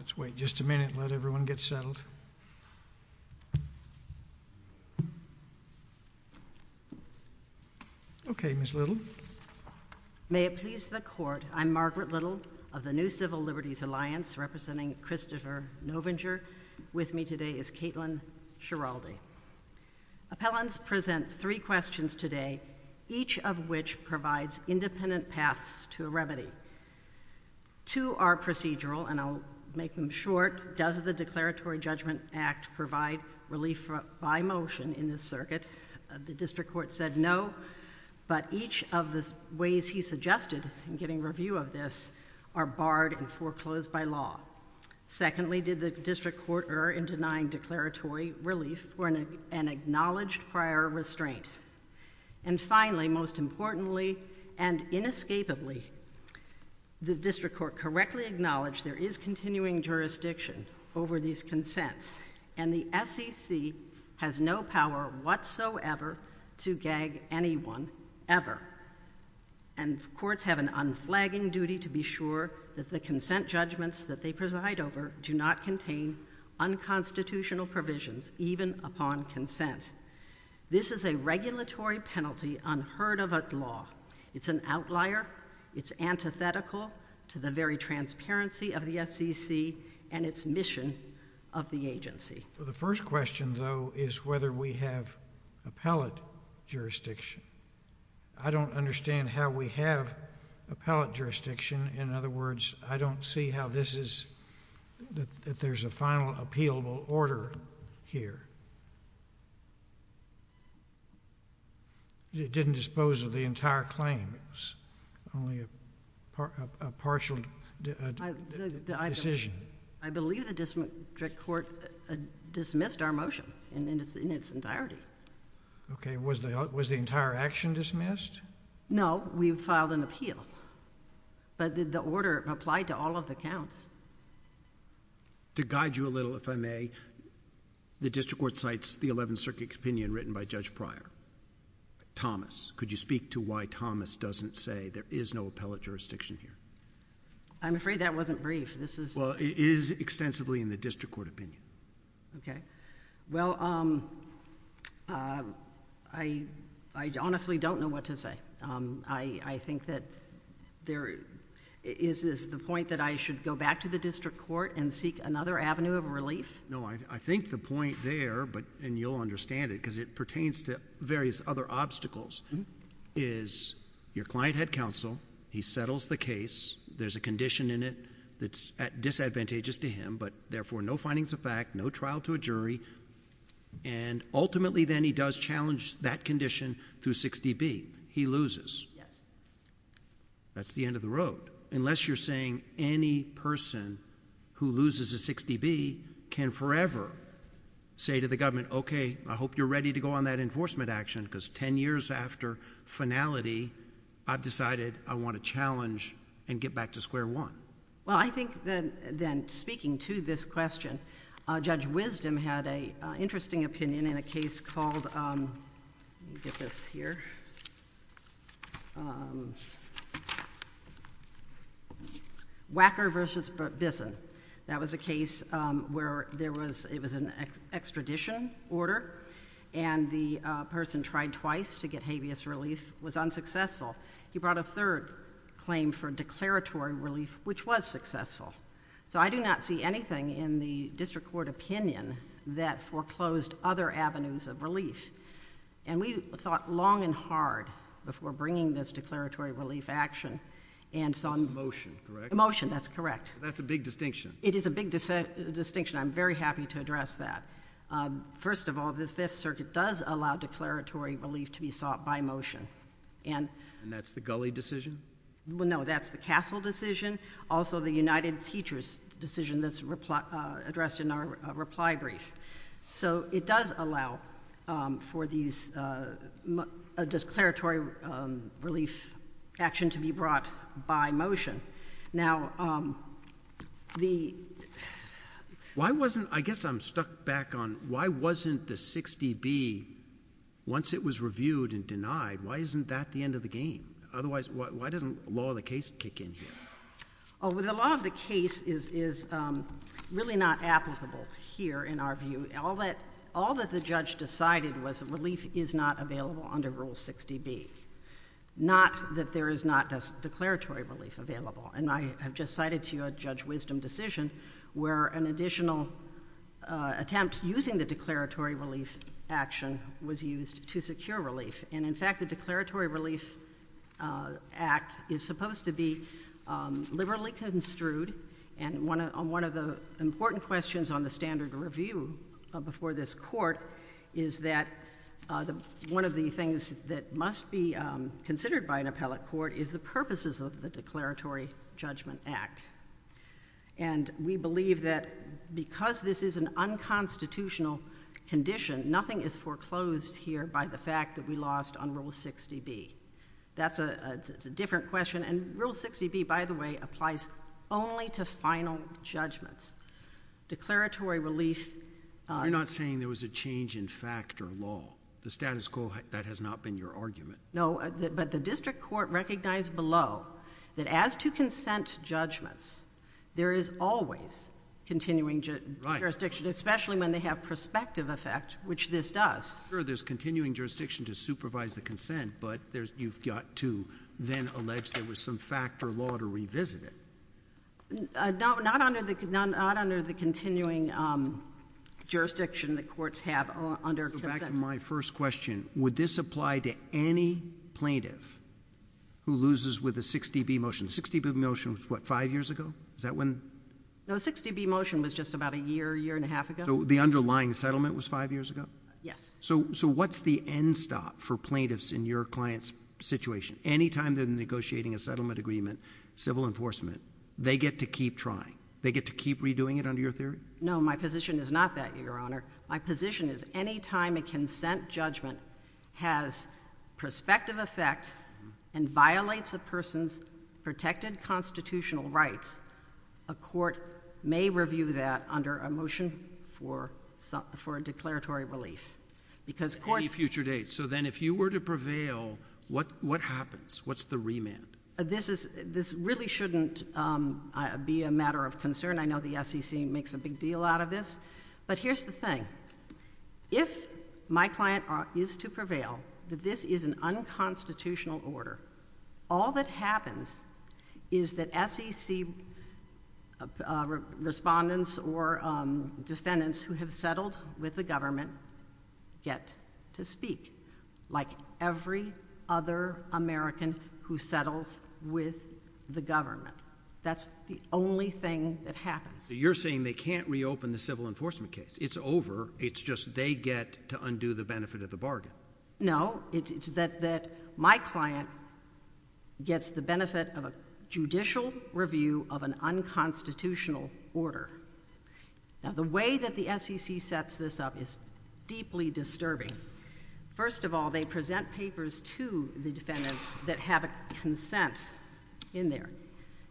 Let's wait just a minute and let everyone get settled. Okay, Ms. Little. Margaret Little May it please the Court, I'm Margaret Little of the New Civil Liberties Alliance, representing Christopher Novinger. With me today is Caitlin Schiraldi. Appellants present three questions today, each of which provides independent paths to a remedy. Two are procedural, and I'll make them short. Does the Declaratory Judgment Act provide relief by motion in this circuit? The district court said no, but each of the ways he suggested in getting review of this are barred and foreclosed by law. Secondly, did the district court err in denying declaratory relief for an acknowledged prior restraint? And finally, most importantly, and inescapably, the district court correctly acknowledged there is continuing jurisdiction over these consents, and the SEC has no power whatsoever to gag anyone, ever. And courts have an unflagging duty to be sure that the consent judgments that they preside over do not contain unconstitutional provisions, even upon consent. This is a regulatory penalty unheard of at law. It's an outlier. It's antithetical to the very transparency of the SEC and its mission of the agency. The first question, though, is whether we have appellate jurisdiction. I don't understand how we have appellate jurisdiction. In other words, I don't see how this is, that there's a final appealable order here. It didn't dispose of the entire claim. It was only a partial decision. I believe the district court dismissed our motion in its entirety. Okay. Was the entire action dismissed? No, we filed an appeal. But did the order apply to all of the counts? To guide you a little, if I may, the district court cites the Eleventh Circuit opinion written by Judge Pryor. Thomas, could you speak to why Thomas doesn't say there is no appellate jurisdiction here? I'm afraid that wasn't brief. Well, it is extensively in the district court opinion. Okay. Well, I honestly don't know what to say. I think that there is the point that I should go back to the district court and seek another avenue of relief? No, I think the point there, and you'll understand it because it pertains to various other obstacles, is your client had counsel, he settles the case, there's a condition in it that's disadvantageous to him, but therefore no findings of fact, no trial to a jury, and ultimately then he does challenge that condition through 6dB. He loses. Yes. That's the end of the road. Unless you're saying any person who loses a 6dB can forever say to the government, okay, I hope you're ready to go on that enforcement action because 10 years after finality, I've decided I want to challenge and get back to square one. Well, I think then speaking to this question, Judge Wisdom had an interesting opinion in a case called, let me get this here, Wacker v. Bisson. That was a case where it was an extradition order and the person tried twice to get habeas relief, was unsuccessful. He brought a third claim for declaratory relief, which was successful. So I do not see anything in the district court opinion that foreclosed other avenues of relief. And we thought long and hard before bringing this declaratory relief action. Motion, correct? Motion, that's correct. That's a big distinction. It is a big distinction. I'm very happy to address that. First of all, the Fifth Circuit does allow declaratory relief to be sought by motion. And that's the Gulley decision? No, that's the Castle decision. Also the United Teachers decision that's addressed in our reply brief. So it does allow for these, a declaratory relief action to be brought by motion. Now, the... Why wasn't, I guess I'm stuck back on, why wasn't the 60B, once it was reviewed and denied, why isn't that the end of the game? Otherwise, why doesn't law of the case kick in here? The law of the case is really not applicable here in our view. All that the judge decided was that relief is not available under Rule 60B. Not that there is not declaratory relief available. And I have just cited to you a Judge Wisdom decision where an additional attempt using the declaratory relief action was used to secure relief. And in fact, the declaratory relief act is supposed to be liberally construed. And one of the important questions on the standard review before this court is that one of the things that must be considered by an appellate court is the purposes of the declaratory judgment act. And we believe that because this is an unconstitutional condition, nothing is foreclosed here by the fact that we lost on Rule 60B. That's a different question. And Rule 60B, by the way, applies only to final judgments. Declaratory relief. You're not saying there was a change in fact or law. The status quo, that has not been your argument. No, but the district court recognized below that as to consent judgments, there is always continuing jurisdiction, especially when they have prospective effect, which this does. Sure, there's continuing jurisdiction to supervise the consent, but you've got to then allege there was some fact or law to revisit it. Not under the continuing jurisdiction that courts have under consent. Go back to my first question. Would this apply to any plaintiff who loses with a 60B motion? The 60B motion was what, five years ago? Is that when? No, the 60B motion was just about a year, year and a half ago. So the underlying settlement was five years ago? Yes. So what's the end stop for plaintiffs in your client's situation? Anytime they're negotiating a settlement agreement, civil enforcement, they get to keep trying? They get to keep redoing it under your theory? No, my position is not that, Your Honor. My position is anytime a consent judgment has prospective effect and violates a person's protected constitutional rights, a court may review that under a motion for a declaratory relief. Any future dates. So then if you were to prevail, what happens? What's the remand? This really shouldn't be a matter of concern. I know the SEC makes a big deal out of this. But here's the thing. If my client is to prevail, that this is an unconstitutional order, all that happens is that SEC respondents or defendants who have settled with the government get to speak. Like every other American who settles with the government. You're saying they can't reopen the civil enforcement case. It's over. It's just they get to undo the benefit of the bargain. No. It's that my client gets the benefit of a judicial review of an unconstitutional order. Now, the way that the SEC sets this up is deeply disturbing. First of all, they present papers to the defendants that have a consent in there.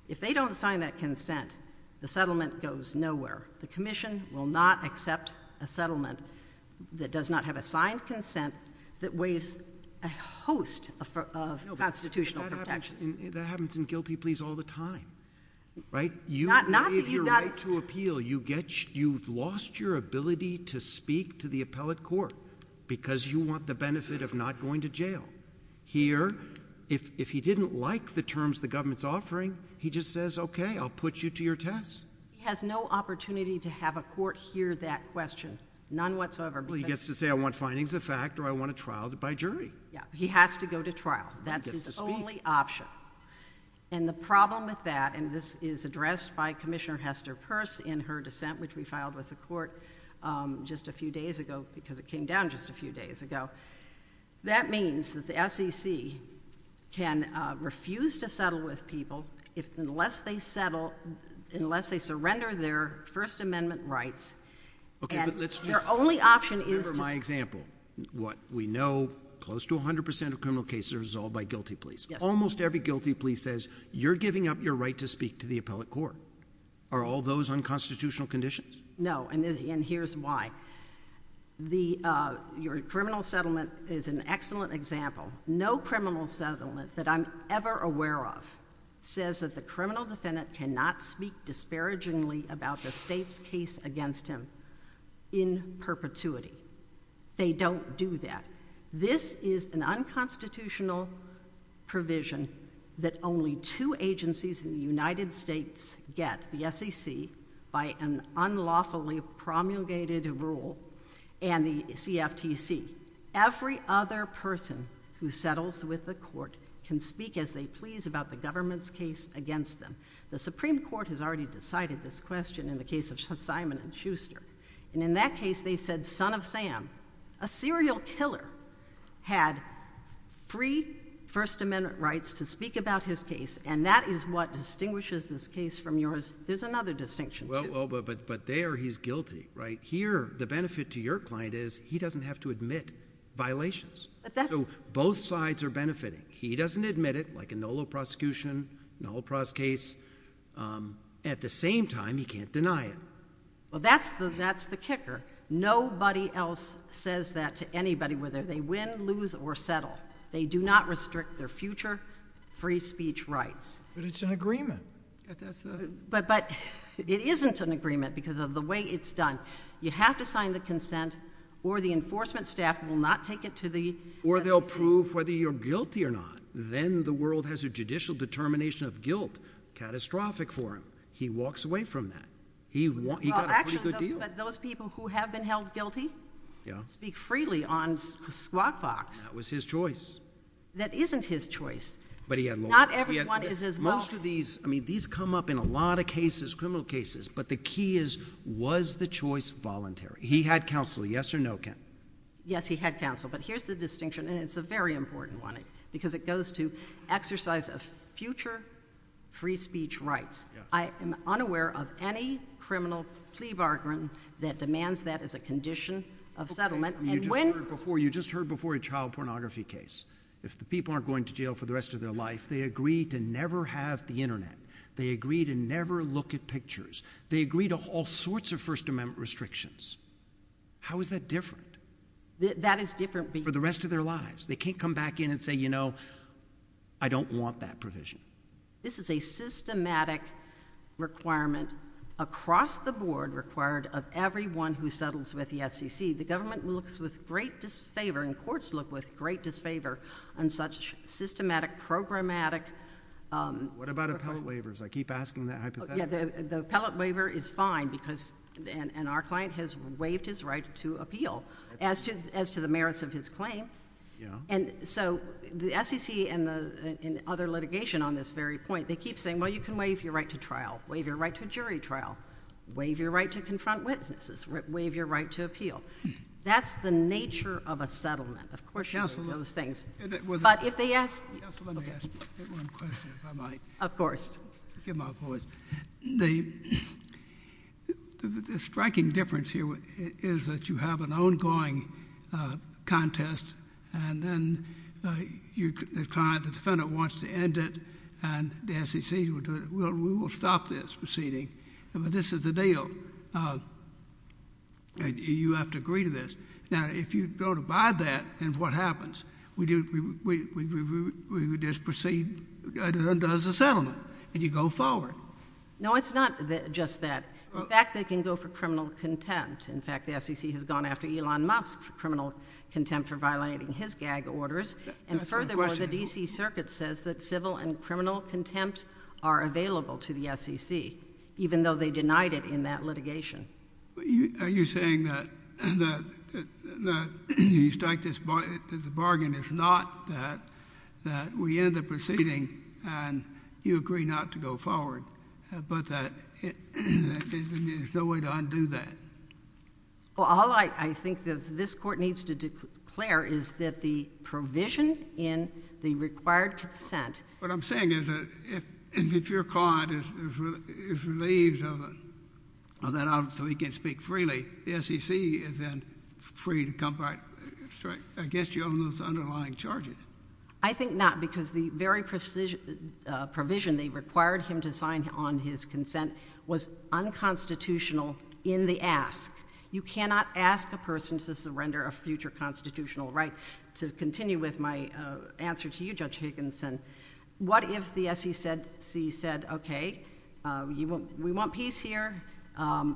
If they don't sign that consent, the settlement goes nowhere. The commission will not accept a settlement that does not have a signed consent that weighs a host of constitutional protections. No, but that happens in guilty pleas all the time. Right? Not that you've got to appeal. You've lost your ability to speak to the appellate court because you want the benefit of not going to jail. Here, if he didn't like the terms the government's offering, he just says, okay, I'll put you to your test. He has no opportunity to have a court hear that question. None whatsoever. Well, he gets to say, I want findings of fact or I want a trial by jury. Yeah. He has to go to trial. That's his only option. And the problem with that, and this is addressed by Commissioner Hester Peirce in her dissent which we filed with the court just a few days ago because it came down just a few days ago. That means that the SEC can refuse to settle with people unless they settle, unless they surrender their First Amendment rights. Okay, but let's just— And their only option is to— Remember my example. What we know, close to 100% of criminal cases are resolved by guilty pleas. Yes. Almost every guilty plea says, you're giving up your right to speak to the appellate court. Are all those unconstitutional conditions? No, and here's why. Your criminal settlement is an excellent example. No criminal settlement that I'm ever aware of says that the criminal defendant cannot speak disparagingly about the state's case against him in perpetuity. They don't do that. This is an unconstitutional provision that only two agencies in the United States get, the SEC by an unlawfully promulgated rule, and the CFTC. Every other person who settles with the court can speak as they please about the government's case against them. The Supreme Court has already decided this question in the case of Simon & Schuster. And in that case, they said, son of Sam, a serial killer had free First Amendment rights to speak about his case, and that is what distinguishes this case from yours. There's another distinction, too. Well, but there he's guilty, right? Here, the benefit to your client is he doesn't have to admit violations. But that's— So both sides are benefiting. He doesn't admit it, like a NOLA prosecution, NOLA prose case. At the same time, he can't deny it. Well, that's the kicker. Nobody else says that to anybody, whether they win, lose, or settle. They do not restrict their future free speech rights. But it's an agreement. But it isn't an agreement because of the way it's done. You have to sign the consent, or the enforcement staff will not take it to the— Or they'll prove whether you're guilty or not. Then the world has a judicial determination of guilt, catastrophic for him. He walks away from that. He got a pretty good deal. Well, actually, those people who have been held guilty speak freely on Squawk Box. That was his choice. That isn't his choice. But he had law. Not everyone is as well— Most of these, I mean, these come up in a lot of cases, criminal cases. But the key is, was the choice voluntary? He had counsel, yes or no? Yes, he had counsel. But here's the distinction, and it's a very important one, because it goes to exercise of future free speech rights. I am unaware of any criminal plea bargain that demands that as a condition of settlement. You just heard before a child pornography case. If the people aren't going to jail for the rest of their life, they agree to never have the Internet. They agree to never look at pictures. They agree to all sorts of First Amendment restrictions. How is that different? That is different because— For the rest of their lives. They can't come back in and say, you know, I don't want that provision. This is a systematic requirement across the board required of everyone who settles with the SEC. The government looks with great disfavor, and courts look with great disfavor, on such systematic, programmatic— What about appellate waivers? I keep asking that hypothetical. The appellate waiver is fine because—and our client has waived his right to appeal as to the merits of his claim. Yeah. And so the SEC and other litigation on this very point, they keep saying, well, you can waive your right to trial. Waive your right to a jury trial. Waive your right to confront witnesses. Waive your right to appeal. That's the nature of a settlement. Of course you do those things. But if they ask— Yes, let me ask one question, if I might. Of course. Forgive my voice. The striking difference here is that you have an ongoing contest, and then the defendant wants to end it, and the SEC will do it. We will stop this proceeding. But this is the deal. You have to agree to this. Now, if you don't abide that, then what happens? We just proceed and it undoes the settlement, and you go forward. No, it's not just that. In fact, they can go for criminal contempt. In fact, the SEC has gone after Elon Musk for criminal contempt for violating his gag orders. And furthermore, the D.C. Circuit says that civil and criminal contempt are available to the SEC, even though they denied it in that litigation. Are you saying that the bargain is not that we end the proceeding and you agree not to go forward, but that there's no way to undo that? Well, all I think that this Court needs to declare is that the provision in the required consent— What I'm saying is that if your client is relieved of that, so he can speak freely, the SEC is then free to come back and strike against you on those underlying charges. I think not, because the very provision they required him to sign on his consent was unconstitutional in the ask. You cannot ask a person to surrender a future constitutional right. To continue with my answer to you, Judge Higginson, what if the SEC said, okay, we want peace here.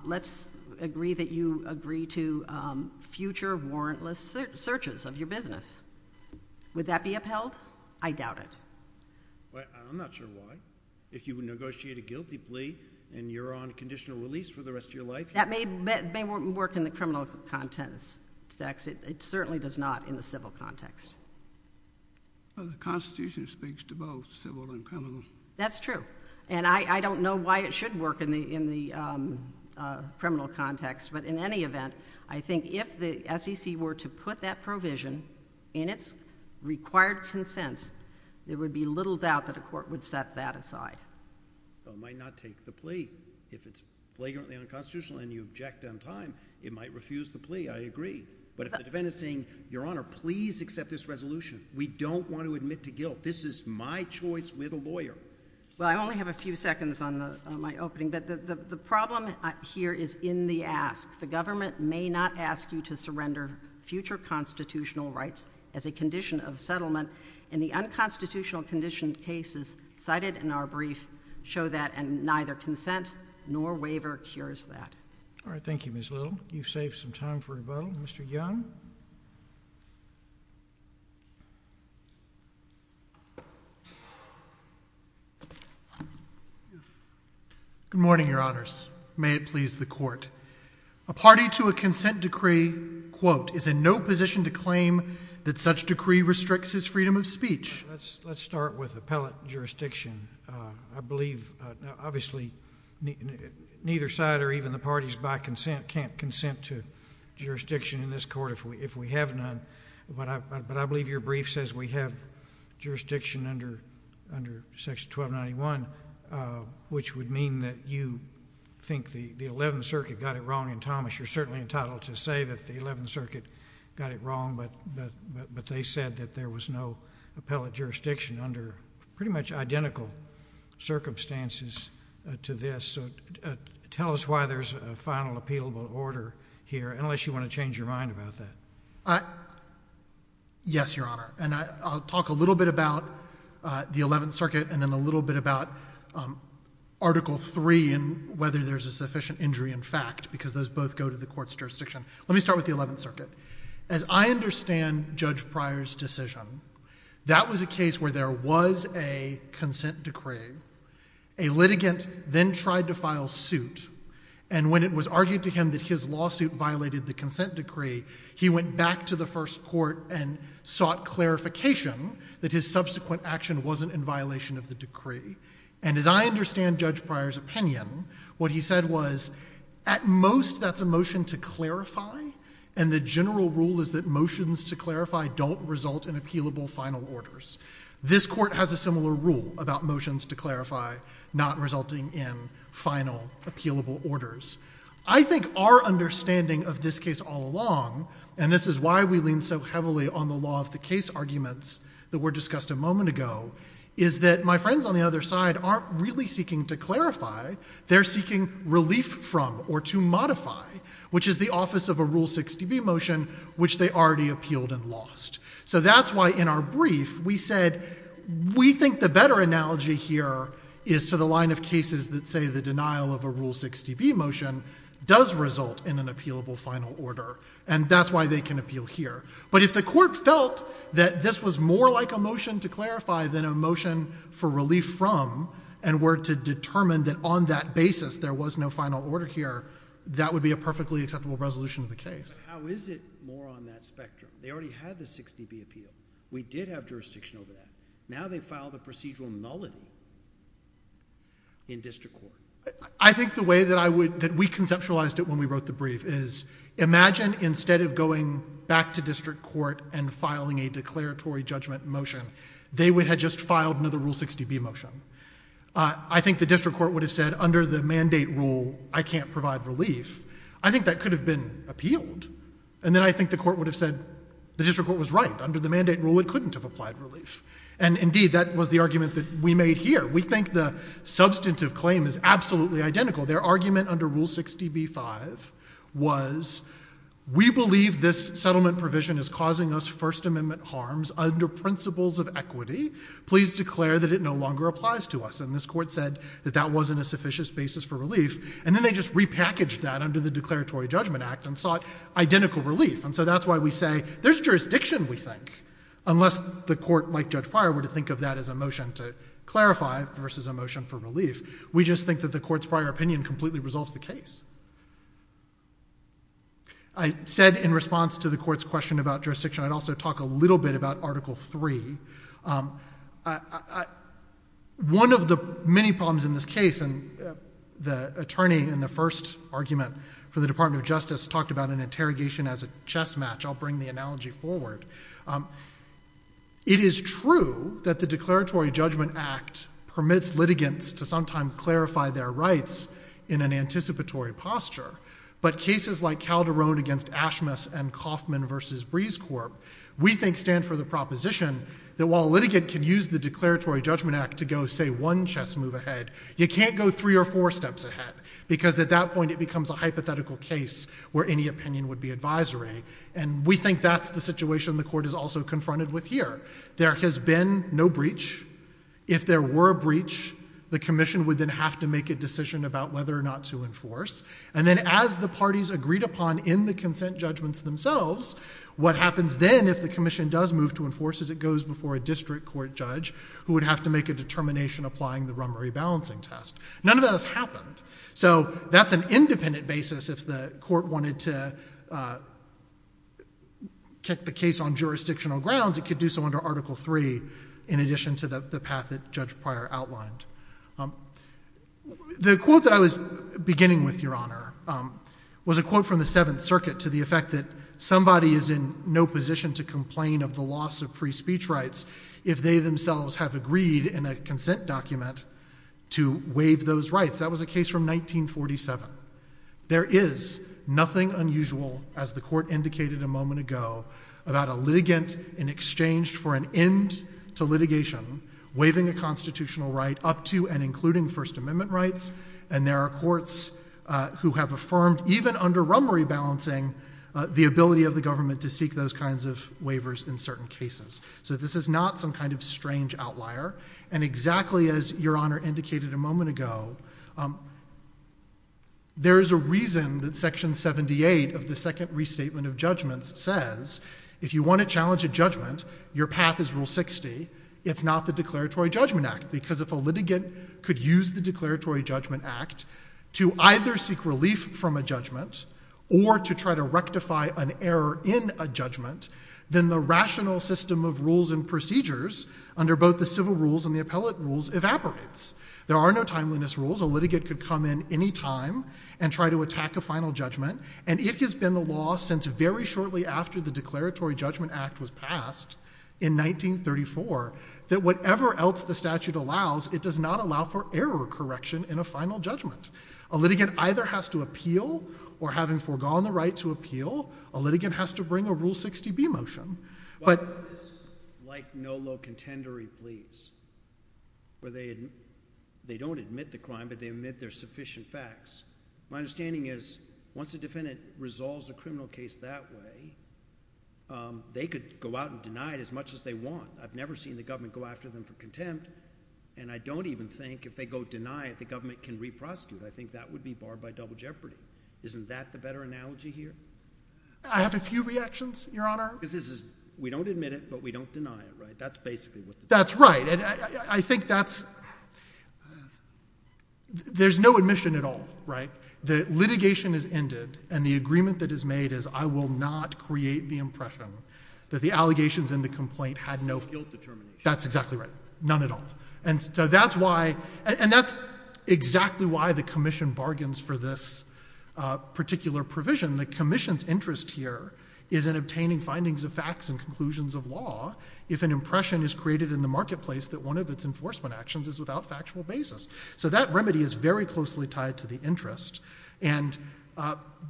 Let's agree that you agree to future warrantless searches of your business. Would that be upheld? I doubt it. I'm not sure why. If you negotiate a guilty plea and you're on conditional release for the rest of your life— That may work in the criminal context. It certainly does not in the civil context. The Constitution speaks to both civil and criminal. That's true. And I don't know why it should work in the criminal context, but in any event, I think if the SEC were to put that provision in its required consents, there would be little doubt that a court would set that aside. It might not take the plea. If it's flagrantly unconstitutional and you object on time, it might refuse the plea. I agree. But if the defendant is saying, Your Honor, please accept this resolution. We don't want to admit to guilt. This is my choice with a lawyer. Well, I only have a few seconds on my opening, but the problem here is in the ask. The government may not ask you to surrender future constitutional rights as a condition of settlement. And the unconstitutional condition cases cited in our brief show that, and neither consent nor waiver cures that. All right. Thank you, Ms. Little. You've saved some time for rebuttal. Mr. Young? Good morning, Your Honors. May it please the Court. A party to a consent decree, quote, is in no position to claim that such decree restricts his freedom of speech. Let's start with appellate jurisdiction. I believe, obviously, neither side or even the parties by consent can't consent to jurisdiction in this court if we have none. But I believe your brief says we have jurisdiction under Section 1291, which would mean that you think the Eleventh Circuit got it wrong in Thomas. You're certainly entitled to say that the Eleventh Circuit got it wrong, but they said that there was no appellate jurisdiction under pretty much identical circumstances to this. So tell us why there's a final appealable order here, unless you want to change your mind about that. Yes, Your Honor. And I'll talk a little bit about the Eleventh Circuit and then a little bit about Article III and whether there's a sufficient injury in fact, because those both go to the court's jurisdiction. Let me start with the Eleventh Circuit. As I understand Judge Pryor's decision, that was a case where there was a consent decree. A litigant then tried to file suit, and when it was argued to him that his lawsuit violated the consent decree, he went back to the First Court and sought clarification that his subsequent action wasn't in violation of the decree. And as I understand Judge Pryor's opinion, what he said was, at most that's a motion to clarify, and the general rule is that motions to clarify don't result in appealable final orders. This court has a similar rule about motions to clarify not resulting in final appealable orders. I think our understanding of this case all along, and this is why we lean so heavily on the law of the case arguments that were discussed a moment ago, is that my friends on the other side aren't really seeking to clarify. They're seeking relief from or to modify, which is the office of a Rule 6db motion, which they already appealed and lost. So that's why in our brief we said we think the better analogy here is to the line of cases that say the denial of a Rule 6db motion does result in an appealable final order, and that's why they can appeal here. But if the court felt that this was more like a motion to clarify than a motion for relief from and were to determine that on that basis there was no final order here, that would be a perfectly acceptable resolution of the case. But how is it more on that spectrum? They already had the 6db appeal. We did have jurisdiction over that. Now they file the procedural nullity in district court. I think the way that we conceptualized it when we wrote the brief is imagine instead of going back to district court and filing a declaratory judgment motion, they would have just filed another Rule 6db motion. I think the district court would have said under the mandate rule I can't provide relief. I think that could have been appealed. And then I think the court would have said the district court was right. Under the mandate rule it couldn't have applied relief. And indeed that was the argument that we made here. We think the substantive claim is absolutely identical. Their argument under Rule 6db-5 was we believe this settlement provision is causing us First Amendment harms under principles of equity. Please declare that it no longer applies to us. And this court said that that wasn't a sufficient basis for relief. And then they just repackaged that under the Declaratory Judgment Act and sought identical relief. And so that's why we say there's jurisdiction we think. Unless the court, like Judge Pryor, were to think of that as a motion to clarify versus a motion for relief. We just think that the court's prior opinion completely resolves the case. I said in response to the court's question about jurisdiction I'd also talk a little bit about Article 3. One of the many problems in this case, and the attorney in the first argument for the Department of Justice talked about an interrogation as a chess match. I'll bring the analogy forward. It is true that the Declaratory Judgment Act permits litigants to sometime clarify their rights in an anticipatory posture. But cases like Calderon against Ashmus and Kaufman versus Breeze Corp. We think stand for the proposition that while a litigant can use the Declaratory Judgment Act to go say one chess move ahead you can't go three or four steps ahead. Because at that point it becomes a hypothetical case where any opinion would be advisory. And we think that's the situation the court is also confronted with here. There has been no breach. If there were a breach the commission would then have to make a decision about whether or not to enforce. And then as the parties agreed upon in the consent judgments themselves what happens then if the commission does move to enforce is it goes before a district court judge who would have to make a determination applying the Rummery Balancing Test. None of that has happened. So that's an independent basis if the court wanted to kick the case on jurisdictional grounds it could do so under Article 3 in addition to the path that Judge Pryor outlined. The quote that I was beginning with, Your Honor, was a quote from the Seventh Circuit to the effect that somebody is in no position to complain of the loss of free speech rights if they themselves have agreed in a consent document to waive those rights. That was a case from 1947. There is nothing unusual as the court indicated a moment ago about a litigant in exchange for an end to litigation waiving a constitutional right up to and including First Amendment rights. And there are courts who have affirmed even under Rummery Balancing the ability of the government to seek those kinds of waivers in certain cases. So this is not some kind of strange outlier. And exactly as Your Honor indicated a moment ago there is a reason that Section 78 of the Second Restatement of Judgments says if you want to challenge a judgment, your path is Rule 60, it's not the Declaratory Judgment Act. Because if a litigant could use the Declaratory Judgment Act to either seek relief from a judgment or to try to rectify an error in a judgment then the rational system of rules and procedures under both the civil rules and the appellate rules evaporates. There are no timeliness rules. A litigant could come in any time and try to attack a final judgment. And it has been the law since very shortly after the Declaratory Judgment Act was passed in 1934 that whatever else the statute allows, it does not allow for error correction in a final judgment. A litigant either has to appeal, or having foregone the right to appeal, a litigant has to bring a Rule 60B motion. Why is this like no low contendory pleas? Where they don't admit the crime, but they admit there's sufficient facts. My understanding is once a defendant resolves a criminal case that way they could go out and deny it as much as they want. I've never seen the government go after them for contempt. And I don't even think if they go deny it, the government can re-prosecute. I think that would be barred by double jeopardy. Isn't that the better analogy here? I have a few reactions, Your Honor. Because this is, we don't admit it, but we don't deny it, right? That's basically what the... That's right. And I think that's... There's no admission at all, right? The litigation is ended, and the agreement that is made is I will not create the impression that the allegations in the complaint had no... No guilt determination. That's exactly right. None at all. And so that's why, and that's exactly why the Commission bargains for this particular provision. The Commission's interest here is in obtaining findings of facts and conclusions of law if an impression is created in the marketplace that one of its enforcement actions is without factual basis. So that remedy is very closely tied to the interest. And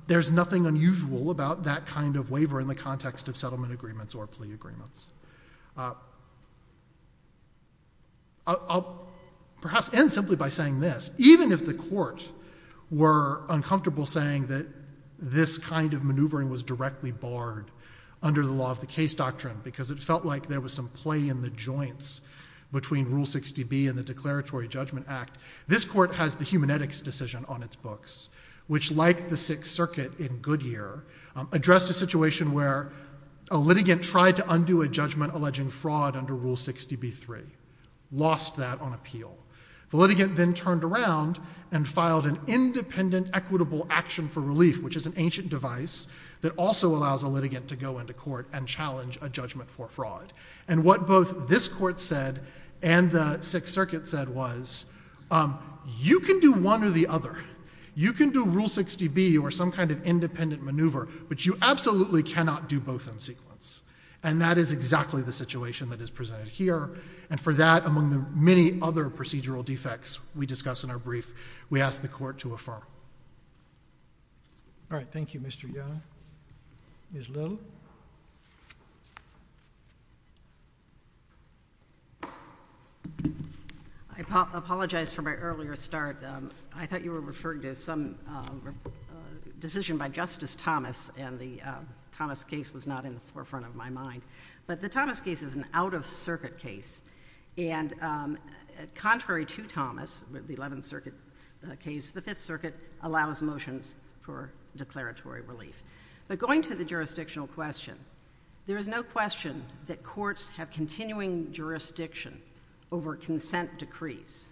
there's nothing unusual about that kind of waiver in the context of settlement agreements or plea agreements. I'll perhaps end simply by saying this. Even if the court were uncomfortable saying that this kind of maneuvering was directly barred under the law of the case doctrine, because it felt like there was some play in the joints between Rule 60B and the Declaratory Judgment Act, this court has the Humanetics Decision on its books, which, like the Sixth Circuit in Goodyear, addressed a situation where a litigant tried to undo a judgment alleging fraud under Rule 60B-3, lost that on appeal. The litigant then turned around and filed an independent equitable action for relief, which is an ancient device that also allows a litigant to go into court and challenge a judgment for fraud. And what both this court said and the Sixth Circuit said was, you can do one or the other. You can do Rule 60B or some kind of independent maneuver, but you absolutely cannot do both in sequence. And that is exactly the situation that is presented here. And for that, among the many other procedural defects we discuss in our brief, we ask the court to affirm. All right. Thank you, Mr. Young. Ms. Little? I apologize for my earlier start. I thought you were referring to some decision by Justice Thomas, and the Thomas case was not in the forefront of my mind. But the Thomas case is an out-of-circuit case. And contrary to Thomas, the Eleventh Circuit case, the Fifth Circuit allows motions for declaratory relief. But going to the jurisdictional question, there is no question that courts have continuing jurisdiction over consent decrees.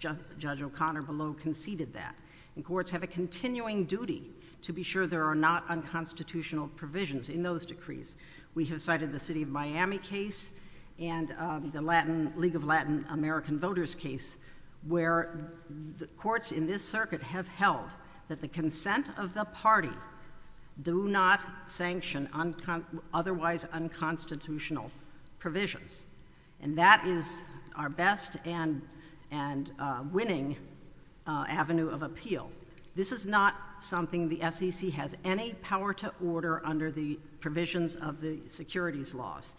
Judge O'Connor below conceded that. And courts have a continuing duty to be sure there are not unconstitutional provisions in those decrees. We have cited the City of Miami case and the League of Latin American Voters case, where the courts in this circuit have held that the consent of the party do not sanction otherwise unconstitutional provisions. And that is our best and winning avenue of appeal. This is not something the SEC has any power to order under the provisions of the securities laws.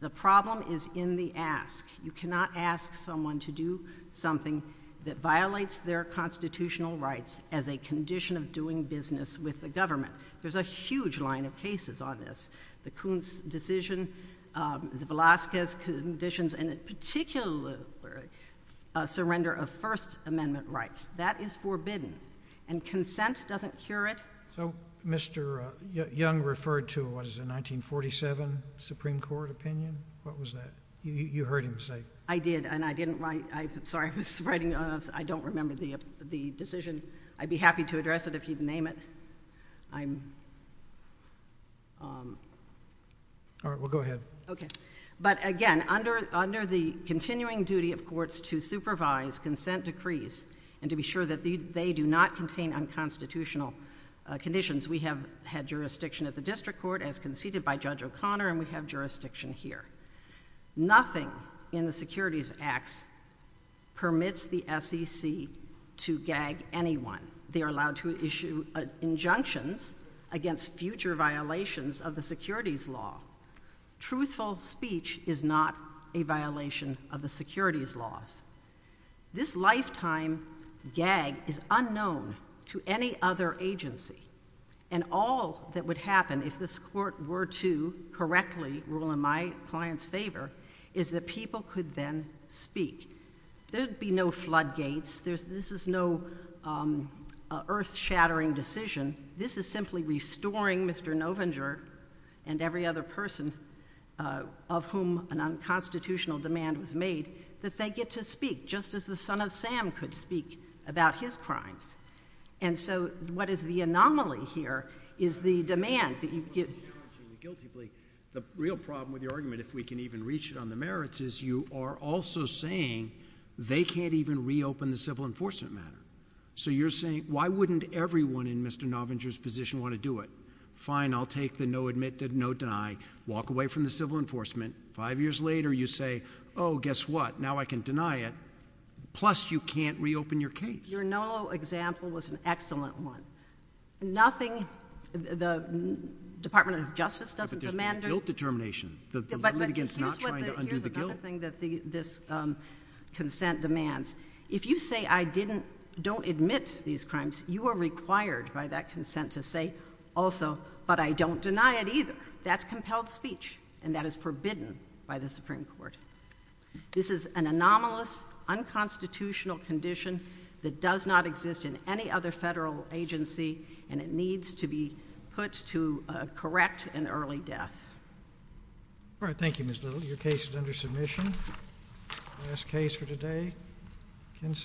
The problem is in the ask. You cannot ask someone to do something that violates their constitutional rights as a condition of doing business with the government. There's a huge line of cases on this. The Coons decision, the Velazquez conditions, and in particular, a surrender of First Amendment rights. That is forbidden. And consent doesn't cure it. So Mr. Young referred to, what is it, a 1947 Supreme Court opinion? What was that? You heard him say it. I did, and I didn't write. I'm sorry. I was writing. I don't remember the decision. I'd be happy to address it if you'd name it. All right, well, go ahead. Okay. But again, under the continuing duty of courts to supervise consent decrees and to be sure that they do not contain unconstitutional conditions, we have had jurisdiction at the district court as conceded by Judge O'Connor, and we have jurisdiction here. Nothing in the securities acts permits the SEC to gag anyone. They are allowed to issue injunctions against future violations of the securities law. Truthful speech is not a violation of the securities laws. This lifetime gag is unknown to any other agency. And all that would happen if this court were to correctly rule in my client's favor is that people could then speak. There would be no floodgates. This is no earth-shattering decision. This is simply restoring Mr. Novinger and every other person of whom an unconstitutional demand was made, that they get to speak just as the son of Sam could speak about his crimes. And so what is the anomaly here is the demand that you get. The real problem with your argument, if we can even reach it on the merits, is you are also saying they can't even reopen the civil enforcement matter. So you're saying, why wouldn't everyone in Mr. Novinger's position want to do it? Fine, I'll take the no admit, no deny, walk away from the civil enforcement. Five years later, you say, oh, guess what, now I can deny it. Plus, you can't reopen your case. Your Nolo example was an excellent one. Nothing, the Department of Justice doesn't demand it. But there's no guilt determination. The litigants not trying to undo the guilt. But here's another thing that this consent demands. If you say I didn't, don't admit these crimes, you are required by that consent to say also, but I don't deny it either. That's compelled speech, and that is forbidden by the Supreme Court. This is an anomalous, unconstitutional condition that does not exist in any other federal agency, and it needs to be put to correct an early death. All right, thank you, Ms. Little. Your case is under submission. Last case for today, consent.